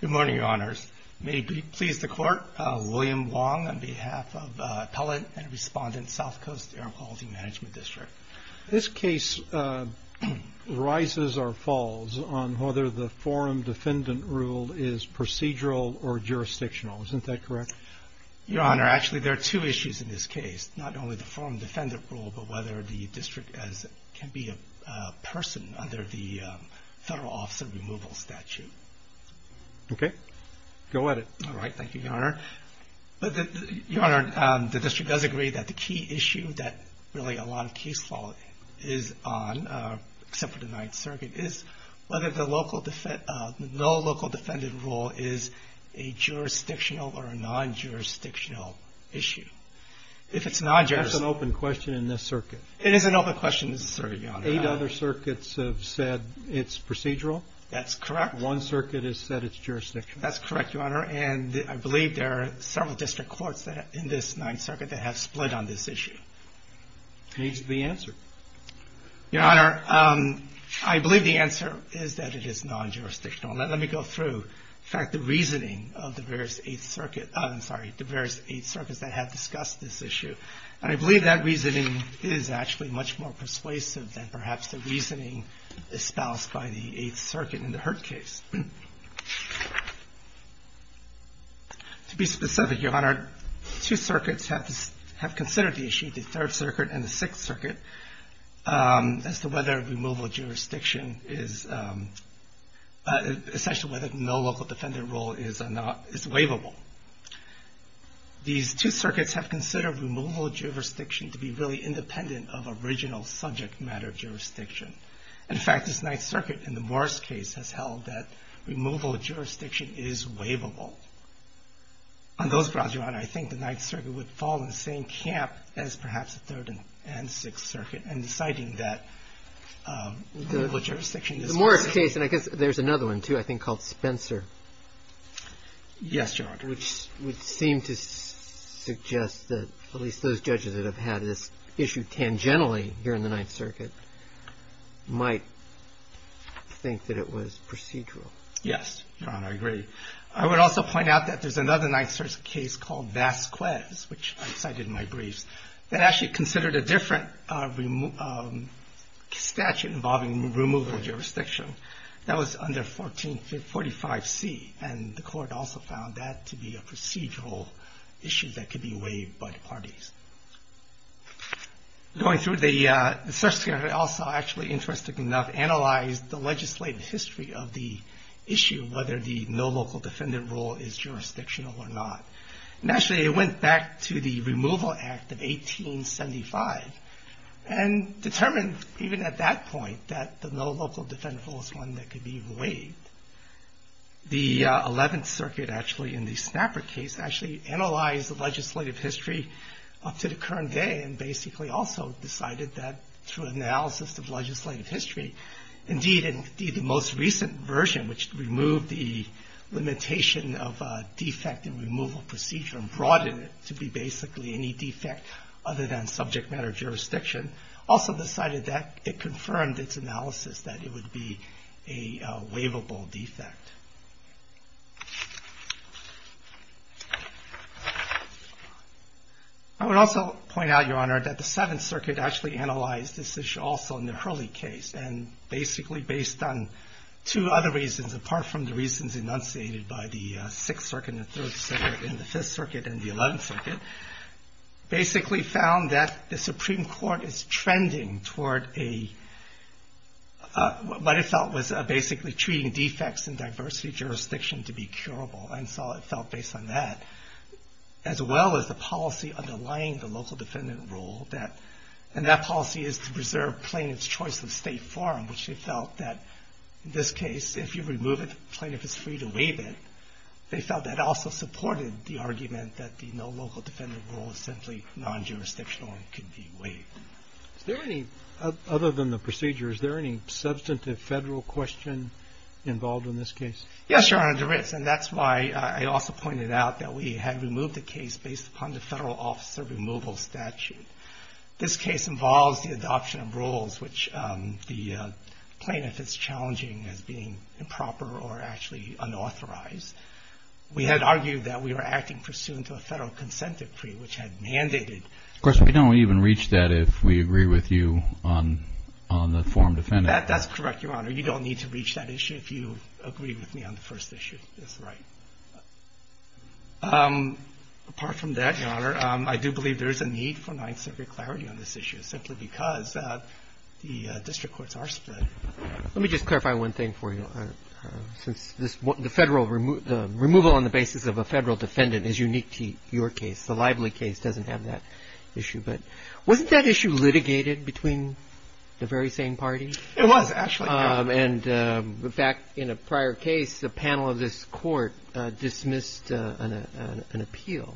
Good morning, Your Honors. May it please the Court, William Long on behalf of Appellant and Respondent, South Coast Air Quality Management District. This case rises or falls on whether the forum defendant rule is procedural or jurisdictional. Isn't that correct? Your Honor, actually there are two issues in this case, not only the forum defendant rule, but whether the district can be a person under the Federal Office of Removal statute. Okay, go at it. All right, thank you, Your Honor. Your Honor, the district does agree that the key issue that really a lot of case law is on, except for the Ninth Circuit, is whether the no local defendant rule is a jurisdictional or a non-jurisdictional issue. If it's non-jurisdictional. That's an open question in this circuit. It is an open question in this circuit, Your Honor. Eight other circuits have said it's procedural. That's correct. One circuit has said it's jurisdictional. That's correct, Your Honor, and I believe there are several district courts in this Ninth Circuit that have split on this issue. What is the answer? Your Honor, I believe the answer is that it is non-jurisdictional. Let me go through, in fact, the reasoning of the various Eighth Circuit, I'm sorry, the various Eighth Circuits that have discussed this issue, and I believe that reasoning is actually much more persuasive than perhaps the reasoning espoused by the Eighth Circuit in the Hurt case. To be specific, Your Honor, two circuits have considered the issue, the Third Circuit and the Sixth Circuit, as to whether removal of jurisdiction is essentially whether no jurisdiction is waivable. Two circuits have considered removal of jurisdiction to be really independent of original subject matter jurisdiction. In fact, this Ninth Circuit in the Morris case has held that removal of jurisdiction is waivable. On those grounds, Your Honor, I think the Ninth Circuit would fall in the same camp as perhaps the Third and Sixth Circuit in deciding that removal of jurisdiction is waivable. The Morris case, and I guess there's another one, too, I think called Spencer. Yes, Your Honor. Which would seem to suggest that at least those judges that have had this issue tangentially here in the Ninth Circuit might think that it was procedural. Yes, Your Honor, I agree. I would also point out that there's another Ninth Circuit case called Vasquez, which I cited in my briefs, that actually considered a different statute involving removal of jurisdiction. That was under 1445C, and the court also found that to be a procedural issue that could be waived by the parties. Going through the Third Circuit, I also actually, interestingly enough, analyzed the legislative history of the issue, whether the no local defendant rule is jurisdictional or not. Actually, it went back to the Removal Act of 1875, and determined even at that point that the no local defendant rule was one that could be waived. The Eleventh Circuit, actually, in the Snapper case, actually analyzed the legislative history up to the current day, and basically also decided that through analysis of legislative history, indeed, the most recent version, which removed the limitation of defect in the removal procedure and broadened it to be basically any defect other than subject matter jurisdiction, also decided that it confirmed its analysis that it would be a waivable defect. I would also point out, Your Honor, that the Seventh Circuit actually analyzed this issue also in the Hurley case, and basically based on two other reasons, apart from the reasons enunciated by the Sixth Circuit, the Third Circuit, and the Fifth Circuit, and the Eleventh Circuit, basically found that the Supreme Court is trending toward what it felt was basically treating defects in diversity jurisdiction to be curable, and so it felt based on that, as well as the policy underlying the local defendant rule, and that policy is to preserve plaintiff's choice of state form, which it felt that in this case, if you remove a plaintiff's right to waive it, they felt that also supported the argument that the no local defendant rule was simply non-jurisdictional and could be waived. Other than the procedure, is there any substantive federal question involved in this case? Yes, Your Honor, there is, and that's why I also pointed out that we had removed the case based upon the federal officer removal statute. This case involves the adoption of a federal consent decree, which had mandated that the plaintiff's right to waive it be unauthorized. We had argued that we were acting pursuant to a federal consent decree, which had mandated that the plaintiff's right to waive it be unauthorized. Of course, we don't even reach that if we agree with you on the form defended. That's correct, Your Honor. You don't need to reach that issue if you agree with me on the first issue. That's right. Apart from that, Your Honor, I do believe there is a need for Ninth Circuit clarity on this issue, simply because the district courts are split. Let me just clarify one thing for you, since the federal removal on the basis of a federal defendant is unique to your case. The Lively case doesn't have that issue. But wasn't that issue litigated between the very same party? It was, actually, Your Honor. And, in fact, in a prior case, the panel of this Court dismissed an appeal.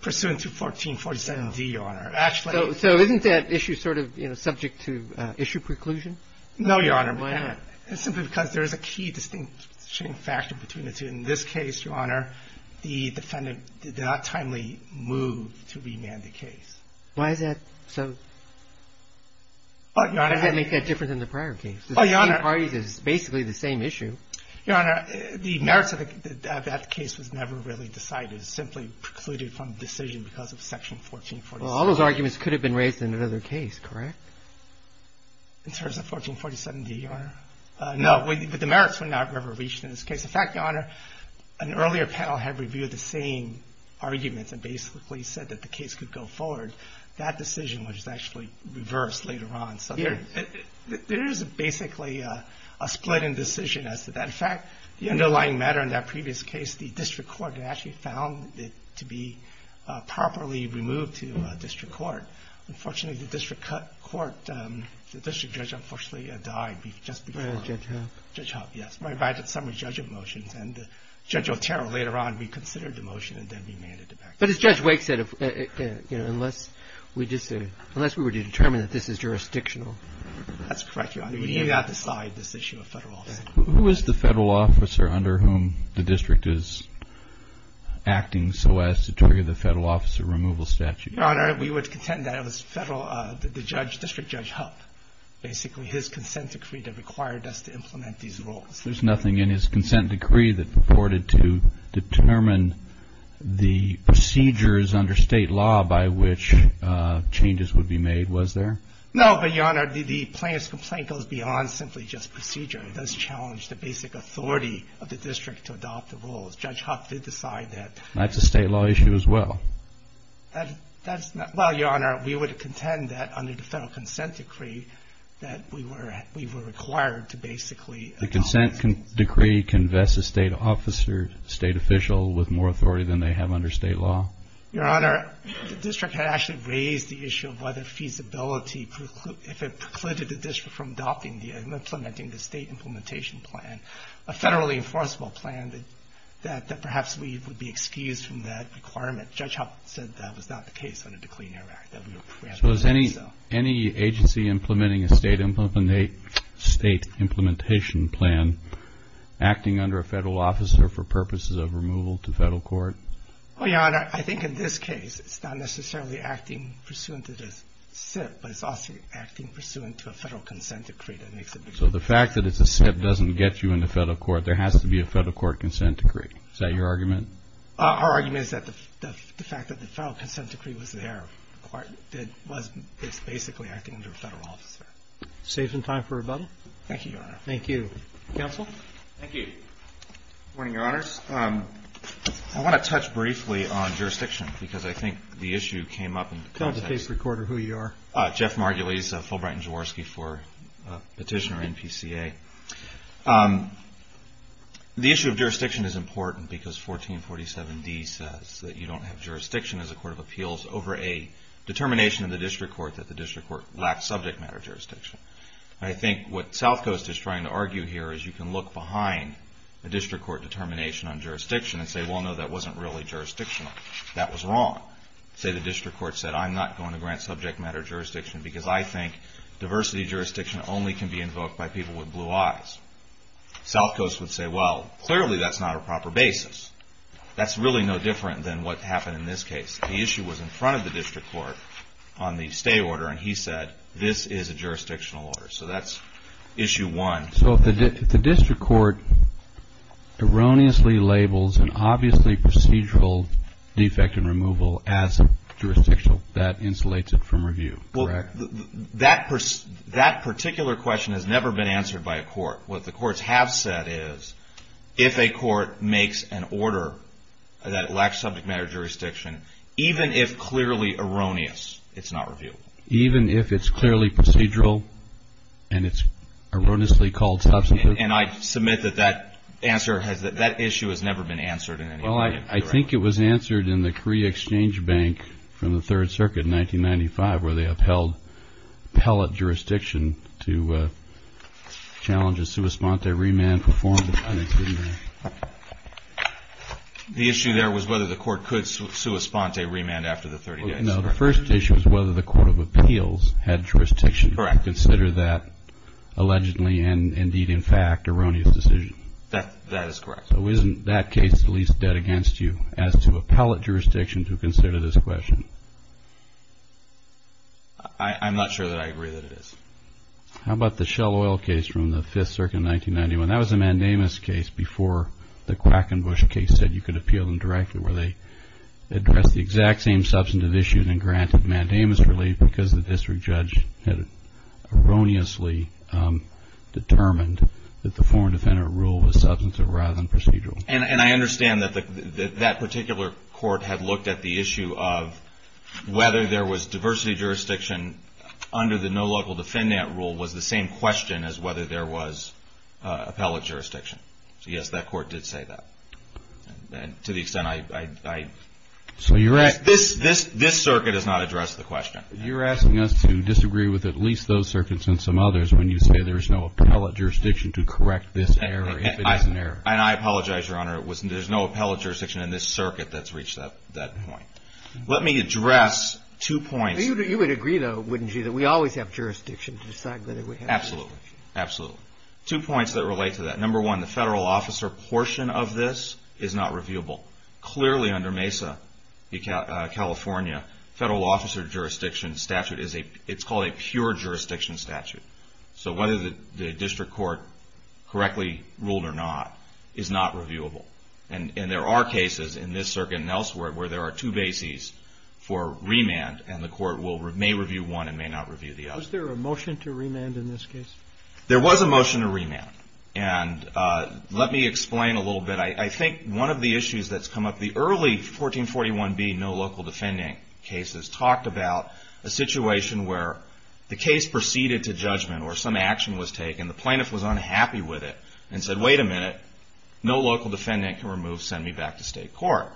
Pursuant to 1447d, Your Honor. So isn't that issue sort of subject to issue preclusion? No, Your Honor. Why not? Simply because there is a key distinction factor between the two. In this case, Your Honor, the defendant did not timely move to remand the case. Why is that so? How does that make that different than the prior case? The three parties is basically the same issue. Your Honor, the merits of that case was never really decided. It simply precluded from the decision because of Section 1447d. Well, all those arguments could have been raised in another case, correct? In terms of 1447d, Your Honor? No. But the merits were not ever reached in this case. In fact, Your Honor, an earlier panel had reviewed the same arguments and basically said that the case could go forward. That decision was actually reversed later on. So there is basically a split in decision as to that. In fact, the underlying matter in that previous case, the district court actually found it to be properly removed to district court. Unfortunately, the district court, the district judge unfortunately died just before. Judge Huff. Judge Huff, yes. Right by the summary judgment motions. And Judge Otero later on reconsidered the motion and then remanded it back. But as Judge Wake said, you know, unless we were to determine that this is jurisdictional That's correct, Your Honor. We do not decide this issue of federal office. Who is the federal officer under whom the district is acting so as to trigger the federal officer removal statute? Your Honor, we would contend that it was federal, the judge, District Judge Huff. Basically his consent decree that required us to implement these rules. There's nothing in his consent decree that purported to determine the procedures under state law by which changes would be made, was there? No, but Your Honor, the plaintiff's complaint goes beyond simply just procedure. It does challenge the basic authority of the district to adopt the rules. Judge Huff did decide that. And that's a state law issue as well. That's not, well, Your Honor, we would contend that under the federal consent decree that we were required to basically adopt the rules. The consent decree convests a state officer, state official with more authority than they have under state law? Your Honor, the district had actually raised the issue of whether feasibility, if it precluded the district from adopting and implementing the state implementation plan, a federally enforceable plan, that perhaps we would be excused from that requirement. Judge Huff said that was not the case under the Clean Air Act. So is any agency implementing a state implementation plan acting under a federal officer for purposes of removal to federal court? Well, Your Honor, I think in this case it's not necessarily acting pursuant to the SIP, but it's also acting pursuant to a federal consent decree that makes it possible. So the fact that it's a SIP doesn't get you into federal court, there has to be a federal court consent decree. Is that your argument? Our argument is that the fact that the federal consent decree was there was basically acting under a federal officer. Safe in time for rebuttal? Thank you, Your Honor. Thank you. Counsel? Thank you. Good morning, Your Honors. I want to touch briefly on jurisdiction, because I think the issue came up in context. Tell the case recorder who you are. Jeff Margulies, Fulbright and Jaworski for Petitioner NPCA. The issue of jurisdiction is important, because 1447D says that you don't have jurisdiction as a court of appeals over a determination in the district court that the district court lacks subject matter jurisdiction. I think what Southcoast is trying to say, well, no, that wasn't really jurisdictional, that was wrong. Say the district court said, I'm not going to grant subject matter jurisdiction because I think diversity jurisdiction only can be invoked by people with blue eyes. Southcoast would say, well, clearly that's not a proper basis. That's really no different than what happened in this case. The issue was in front of the district court on the stay order, and he said, this is a jurisdictional order. So that's issue one. So if the district court erroneously labels an obviously procedural defect in removal as jurisdictional, that insulates it from review, correct? That particular question has never been answered by a court. What the courts have said is, if a court makes an order that lacks subject matter jurisdiction, even if clearly erroneous, it's not reviewable. Even if it's clearly procedural and it's erroneously called substantive. And I submit that that issue has never been answered in any way. Well, I think it was answered in the Korea Exchange Bank from the Third Circuit in 1995, where they upheld pellet jurisdiction to challenge a sua sponte remand. The issue there was whether the court could sua sponte remand after the 30 days. No, the first issue was whether the Court of Appeals had jurisdiction to consider that allegedly, and indeed in fact, erroneous decision. That is correct. So isn't that case at least dead against you as to a pellet jurisdiction to consider this question? I'm not sure that I agree that it is. How about the Shell Oil case from the Fifth Circuit in 1991? That was a mandamus case before the Quackenbush case said you could appeal them directly where they addressed the exact same substantive issues and granted mandamus relief because the district judge had erroneously determined that the foreign defendant rule was substantive rather than procedural. And I understand that that particular court had looked at the issue of whether there was diversity jurisdiction under the no local defendant rule was the same question as whether there was a pellet jurisdiction. So yes, that court did say that. And to the extent I – So you're – This circuit has not addressed the question. You're asking us to disagree with at least those circuits and some others when you say there is no pellet jurisdiction to correct this error if it is an error. And I apologize, Your Honor. There's no pellet jurisdiction in this circuit that's reached that point. Let me address two points. You would agree, though, wouldn't you, that we always have jurisdiction to decide whether we have jurisdiction? Absolutely. Absolutely. Two points that relate to that. Number one, the federal officer portion of this is not reviewable. Clearly under MESA California, federal officer jurisdiction statute is a – it's called a pure jurisdiction statute. So whether the district court correctly ruled or not is not reviewable. And there are cases in this circuit and elsewhere where there are two bases for remand and the court may review one and may not review the other. Was there a motion to remand in this case? There was a motion to remand. And let me explain a little bit. I think one of the issues that's come up, the early 1441B no local defending cases talked about a situation where the case proceeded to judgment or some action was taken, the plaintiff was unhappy with it and said, wait a minute, no local defendant can remove, send me back to state court,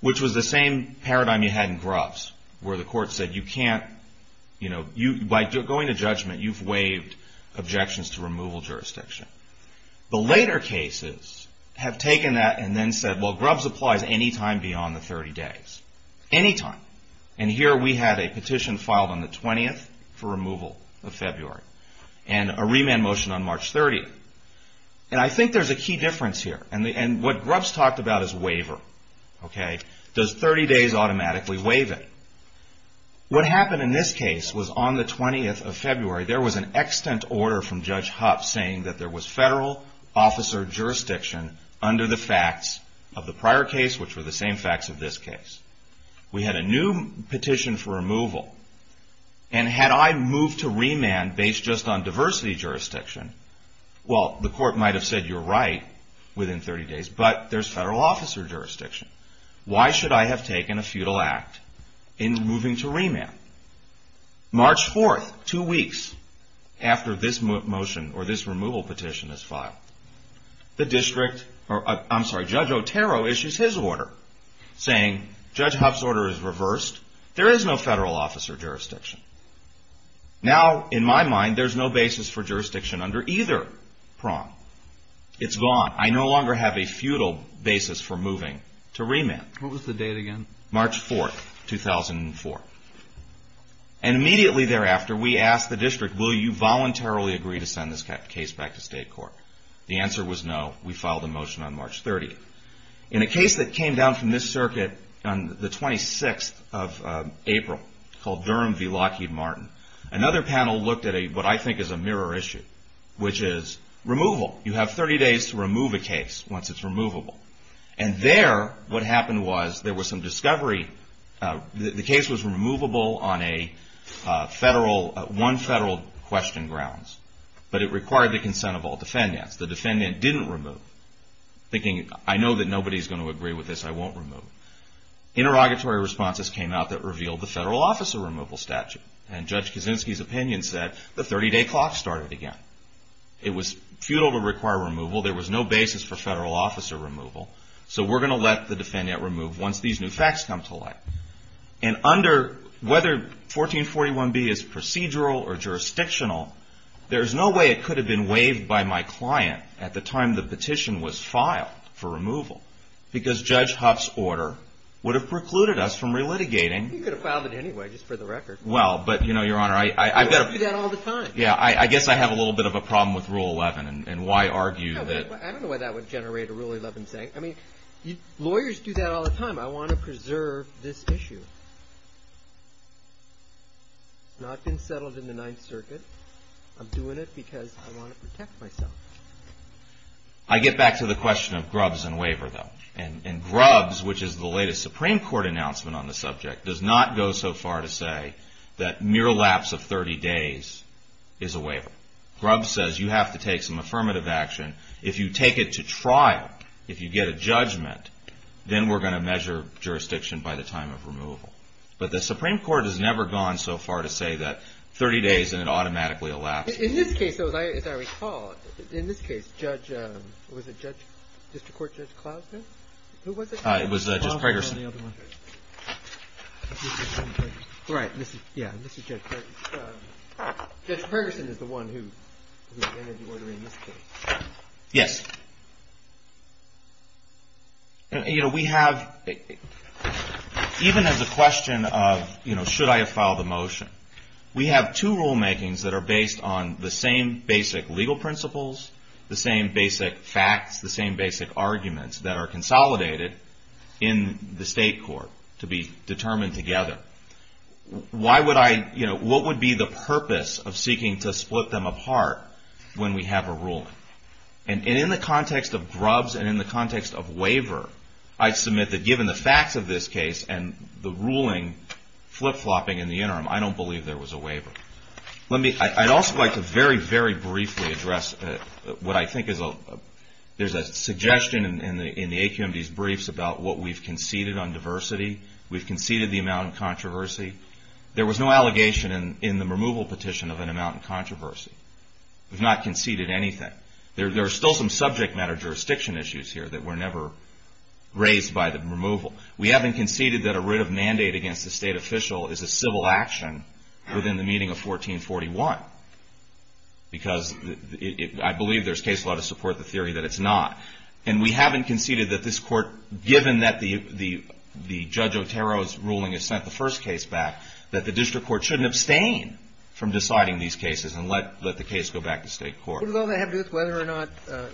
which was the same paradigm you had in Grubbs where the court said you can't – by going to jurisdiction. The later cases have taken that and then said, well, Grubbs applies any time beyond the 30 days. Any time. And here we had a petition filed on the 20th for removal of February. And a remand motion on March 30th. And I think there's a key difference here. And what Grubbs talked about is waiver. Okay? Does 30 days automatically waive it? What happened in this case was on the 20th of February there was an extant order from Judge Hupp saying that there was federal officer jurisdiction under the facts of the prior case, which were the same facts of this case. We had a new petition for removal. And had I moved to remand based just on diversity jurisdiction, well, the court might have said you're right within 30 days, but there's federal officer jurisdiction. March 4th, two weeks after this motion or this removal petition is filed, the district – I'm sorry, Judge Otero issues his order saying Judge Hupp's order is reversed. There is no federal officer jurisdiction. Now, in my mind, there's no basis for jurisdiction under either prong. It's gone. I no longer have a futile basis for moving to remand. What was the date again? March 4th, 2004. And immediately thereafter we asked the district, will you voluntarily agree to send this case back to state court? The answer was no. We filed a motion on March 30th. In a case that came down from this circuit on the 26th of April called Durham v. Lockheed Martin, another panel looked at what I think is a mirror issue, which is removal. You have 30 days to remove a case once it's removable. And there, what happened was there was some discovery – the case was removable on a federal – one federal question grounds, but it required the consent of all defendants. The defendant didn't remove, thinking, I know that nobody's going to agree with this. I won't remove it. Interrogatory responses came out that revealed the federal officer removal statute. And Judge Kaczynski's opinion said the 30-day clock started again. It was futile to require removal. There was no basis for federal officer removal. So we're going to let the defendant remove once these new facts come to light. And under – whether 1441B is procedural or jurisdictional, there is no way it could have been waived by my client at the time the petition was filed for removal, because Judge Huff's order would have precluded us from relitigating. You could have filed it anyway, just for the record. Well, but, you know, Your Honor, I've got to – You do that all the time. Yeah, I guess I have a little bit of a problem with Rule 11 and why argue that I don't know why that would generate a Rule 11 saying. I mean, lawyers do that all the time. I want to preserve this issue. It's not been settled in the Ninth Circuit. I'm doing it because I want to protect myself. I get back to the question of Grubbs and waiver, though. And Grubbs, which is the latest Supreme Court announcement on the subject, does not go so far to say that mere lapse of 30 days is a waiver. Grubbs says you have to take some affirmative action. If you take it to trial, if you get a judgment, then we're going to measure jurisdiction by the time of removal. But the Supreme Court has never gone so far to say that 30 days and it automatically elapsed. In this case, though, as I recall, in this case, Judge – was it Judge – District Court Judge Klausner? Who was it? It was Judge Pregerson. Right. Yeah, this is Judge Pregerson. Judge Pregerson is the one who ended the order in this case. Yes. You know, we have – even as a question of, you know, should I have filed a motion, we have two rulemakings that are based on the same basic legal principles, the same basic facts, the same basic arguments that are consolidated in the state court to be determined together. Why would I – you know, what would be the purpose of seeking to split them apart when we have a ruling? And in the context of Grubbs and in the context of waiver, I submit that given the facts of this case and the ruling flip-flopping in the interim, I don't believe there was a waiver. Let me – I'd also like to very, very briefly address what I think is a – there's a suggestion in the AQMD's briefs about what we've conceded on controversy. There was no allegation in the removal petition of an amount in controversy. We've not conceded anything. There are still some subject matter jurisdiction issues here that were never raised by the removal. We haven't conceded that a writ of mandate against a state official is a civil action within the meeting of 1441 because I believe there's case law to support the theory that it's not. And we haven't conceded that this court, given that the Judge Otero's sent the first case back, that the district court shouldn't abstain from deciding these cases and let the case go back to state court. But does all that have to do with whether or not,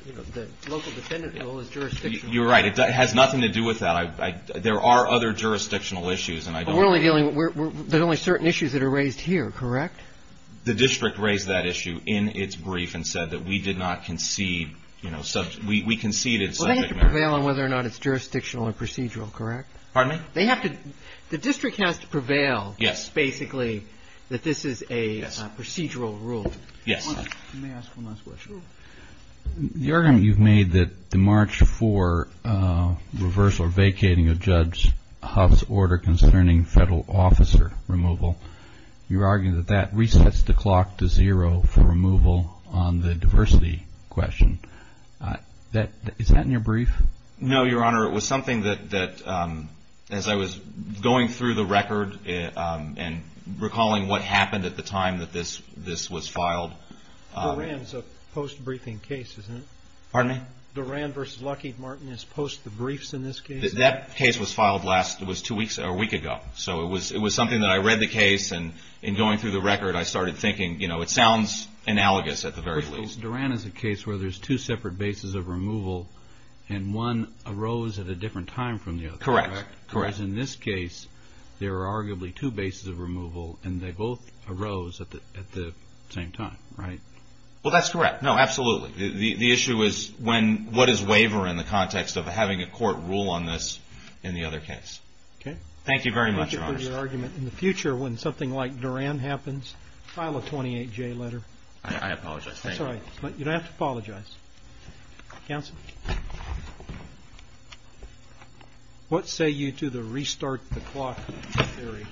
you know, the local defendant rule is jurisdictional? You're right. It has nothing to do with that. I – there are other jurisdictional issues, and I don't agree. But we're only dealing – there's only certain issues that are raised here, correct? The district raised that issue in its brief and said that we did not concede, you know, we conceded subject matter. Well, they have to prevail on whether or not it's jurisdictional or procedural, correct? Pardon me? They have to – the district has to prevail, basically, that this is a procedural rule. Yes. Let me ask one last question. The argument you've made that the March 4 reverse or vacating of Judge Huff's order concerning federal officer removal, you're arguing that that resets the clock to zero for removal on the diversity question. Is that in your brief? No, Your Honor. It was something that, as I was going through the record and recalling what happened at the time that this was filed – Duran is a post-briefing case, isn't it? Pardon me? Duran v. Lucky Martin is post the briefs in this case? That case was filed last – it was two weeks – or a week ago. So it was something that I read the case, and in going through the record, I started thinking, you know, it sounds analogous at the very least. Duran is a case where there's two separate bases of removal, and one arose at a different time from the other. Correct. Correct. Whereas in this case, there are arguably two bases of removal, and they both arose at the same time, right? Well, that's correct. No, absolutely. The issue is when – what is waiver in the context of having a court rule on this in the other case. Okay. Thank you very much, Your Honor. In the future, when something like Duran happens, file a 28J letter. I apologize. That's all right. You don't have to apologize. Counsel? What say you to the restart the clock theory?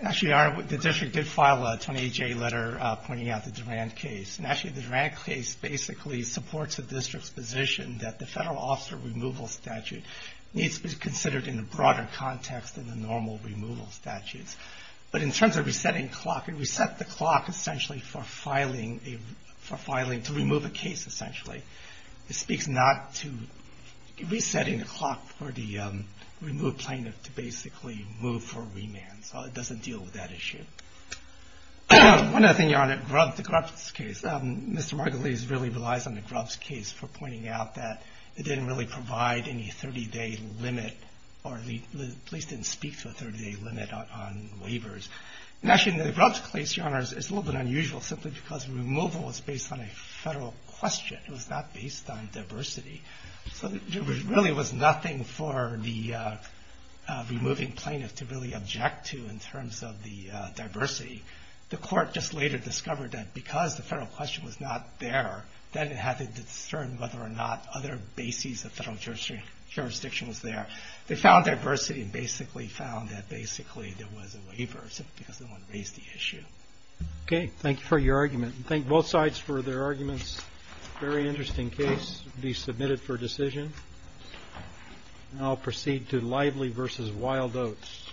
Actually, Your Honor, the district did file a 28J letter pointing out the Duran case. And actually, the Duran case basically supports the district's position that the federal officer removal statute needs to be considered in a broader context than the normal removal statutes. But in terms of resetting clock, it reset the clock essentially for filing to remove a case, essentially. It speaks not to resetting the clock for the removed plaintiff to basically move for remand. So it doesn't deal with that issue. One other thing, Your Honor, the Grubbs case. Mr. Margulies really relies on the Grubbs case for pointing out that it didn't really provide any 30-day limit, or the police didn't speak to a 30-day limit on waivers. And actually, in the Grubbs case, Your Honor, it's a little bit unusual simply because removal was based on a federal question. It was not based on diversity. So there really was nothing for the removing plaintiff to really object to in terms of the diversity. The court just later discovered that because the federal question was not there, then it had to discern whether or not other bases of federal jurisdiction was there. They found diversity and basically found that basically there was a waiver simply because no one raised the issue. Okay. Thank you for your argument. And thank both sides for their arguments. Very interesting case to be submitted for decision. And I'll proceed to Lively v. Wild Oats.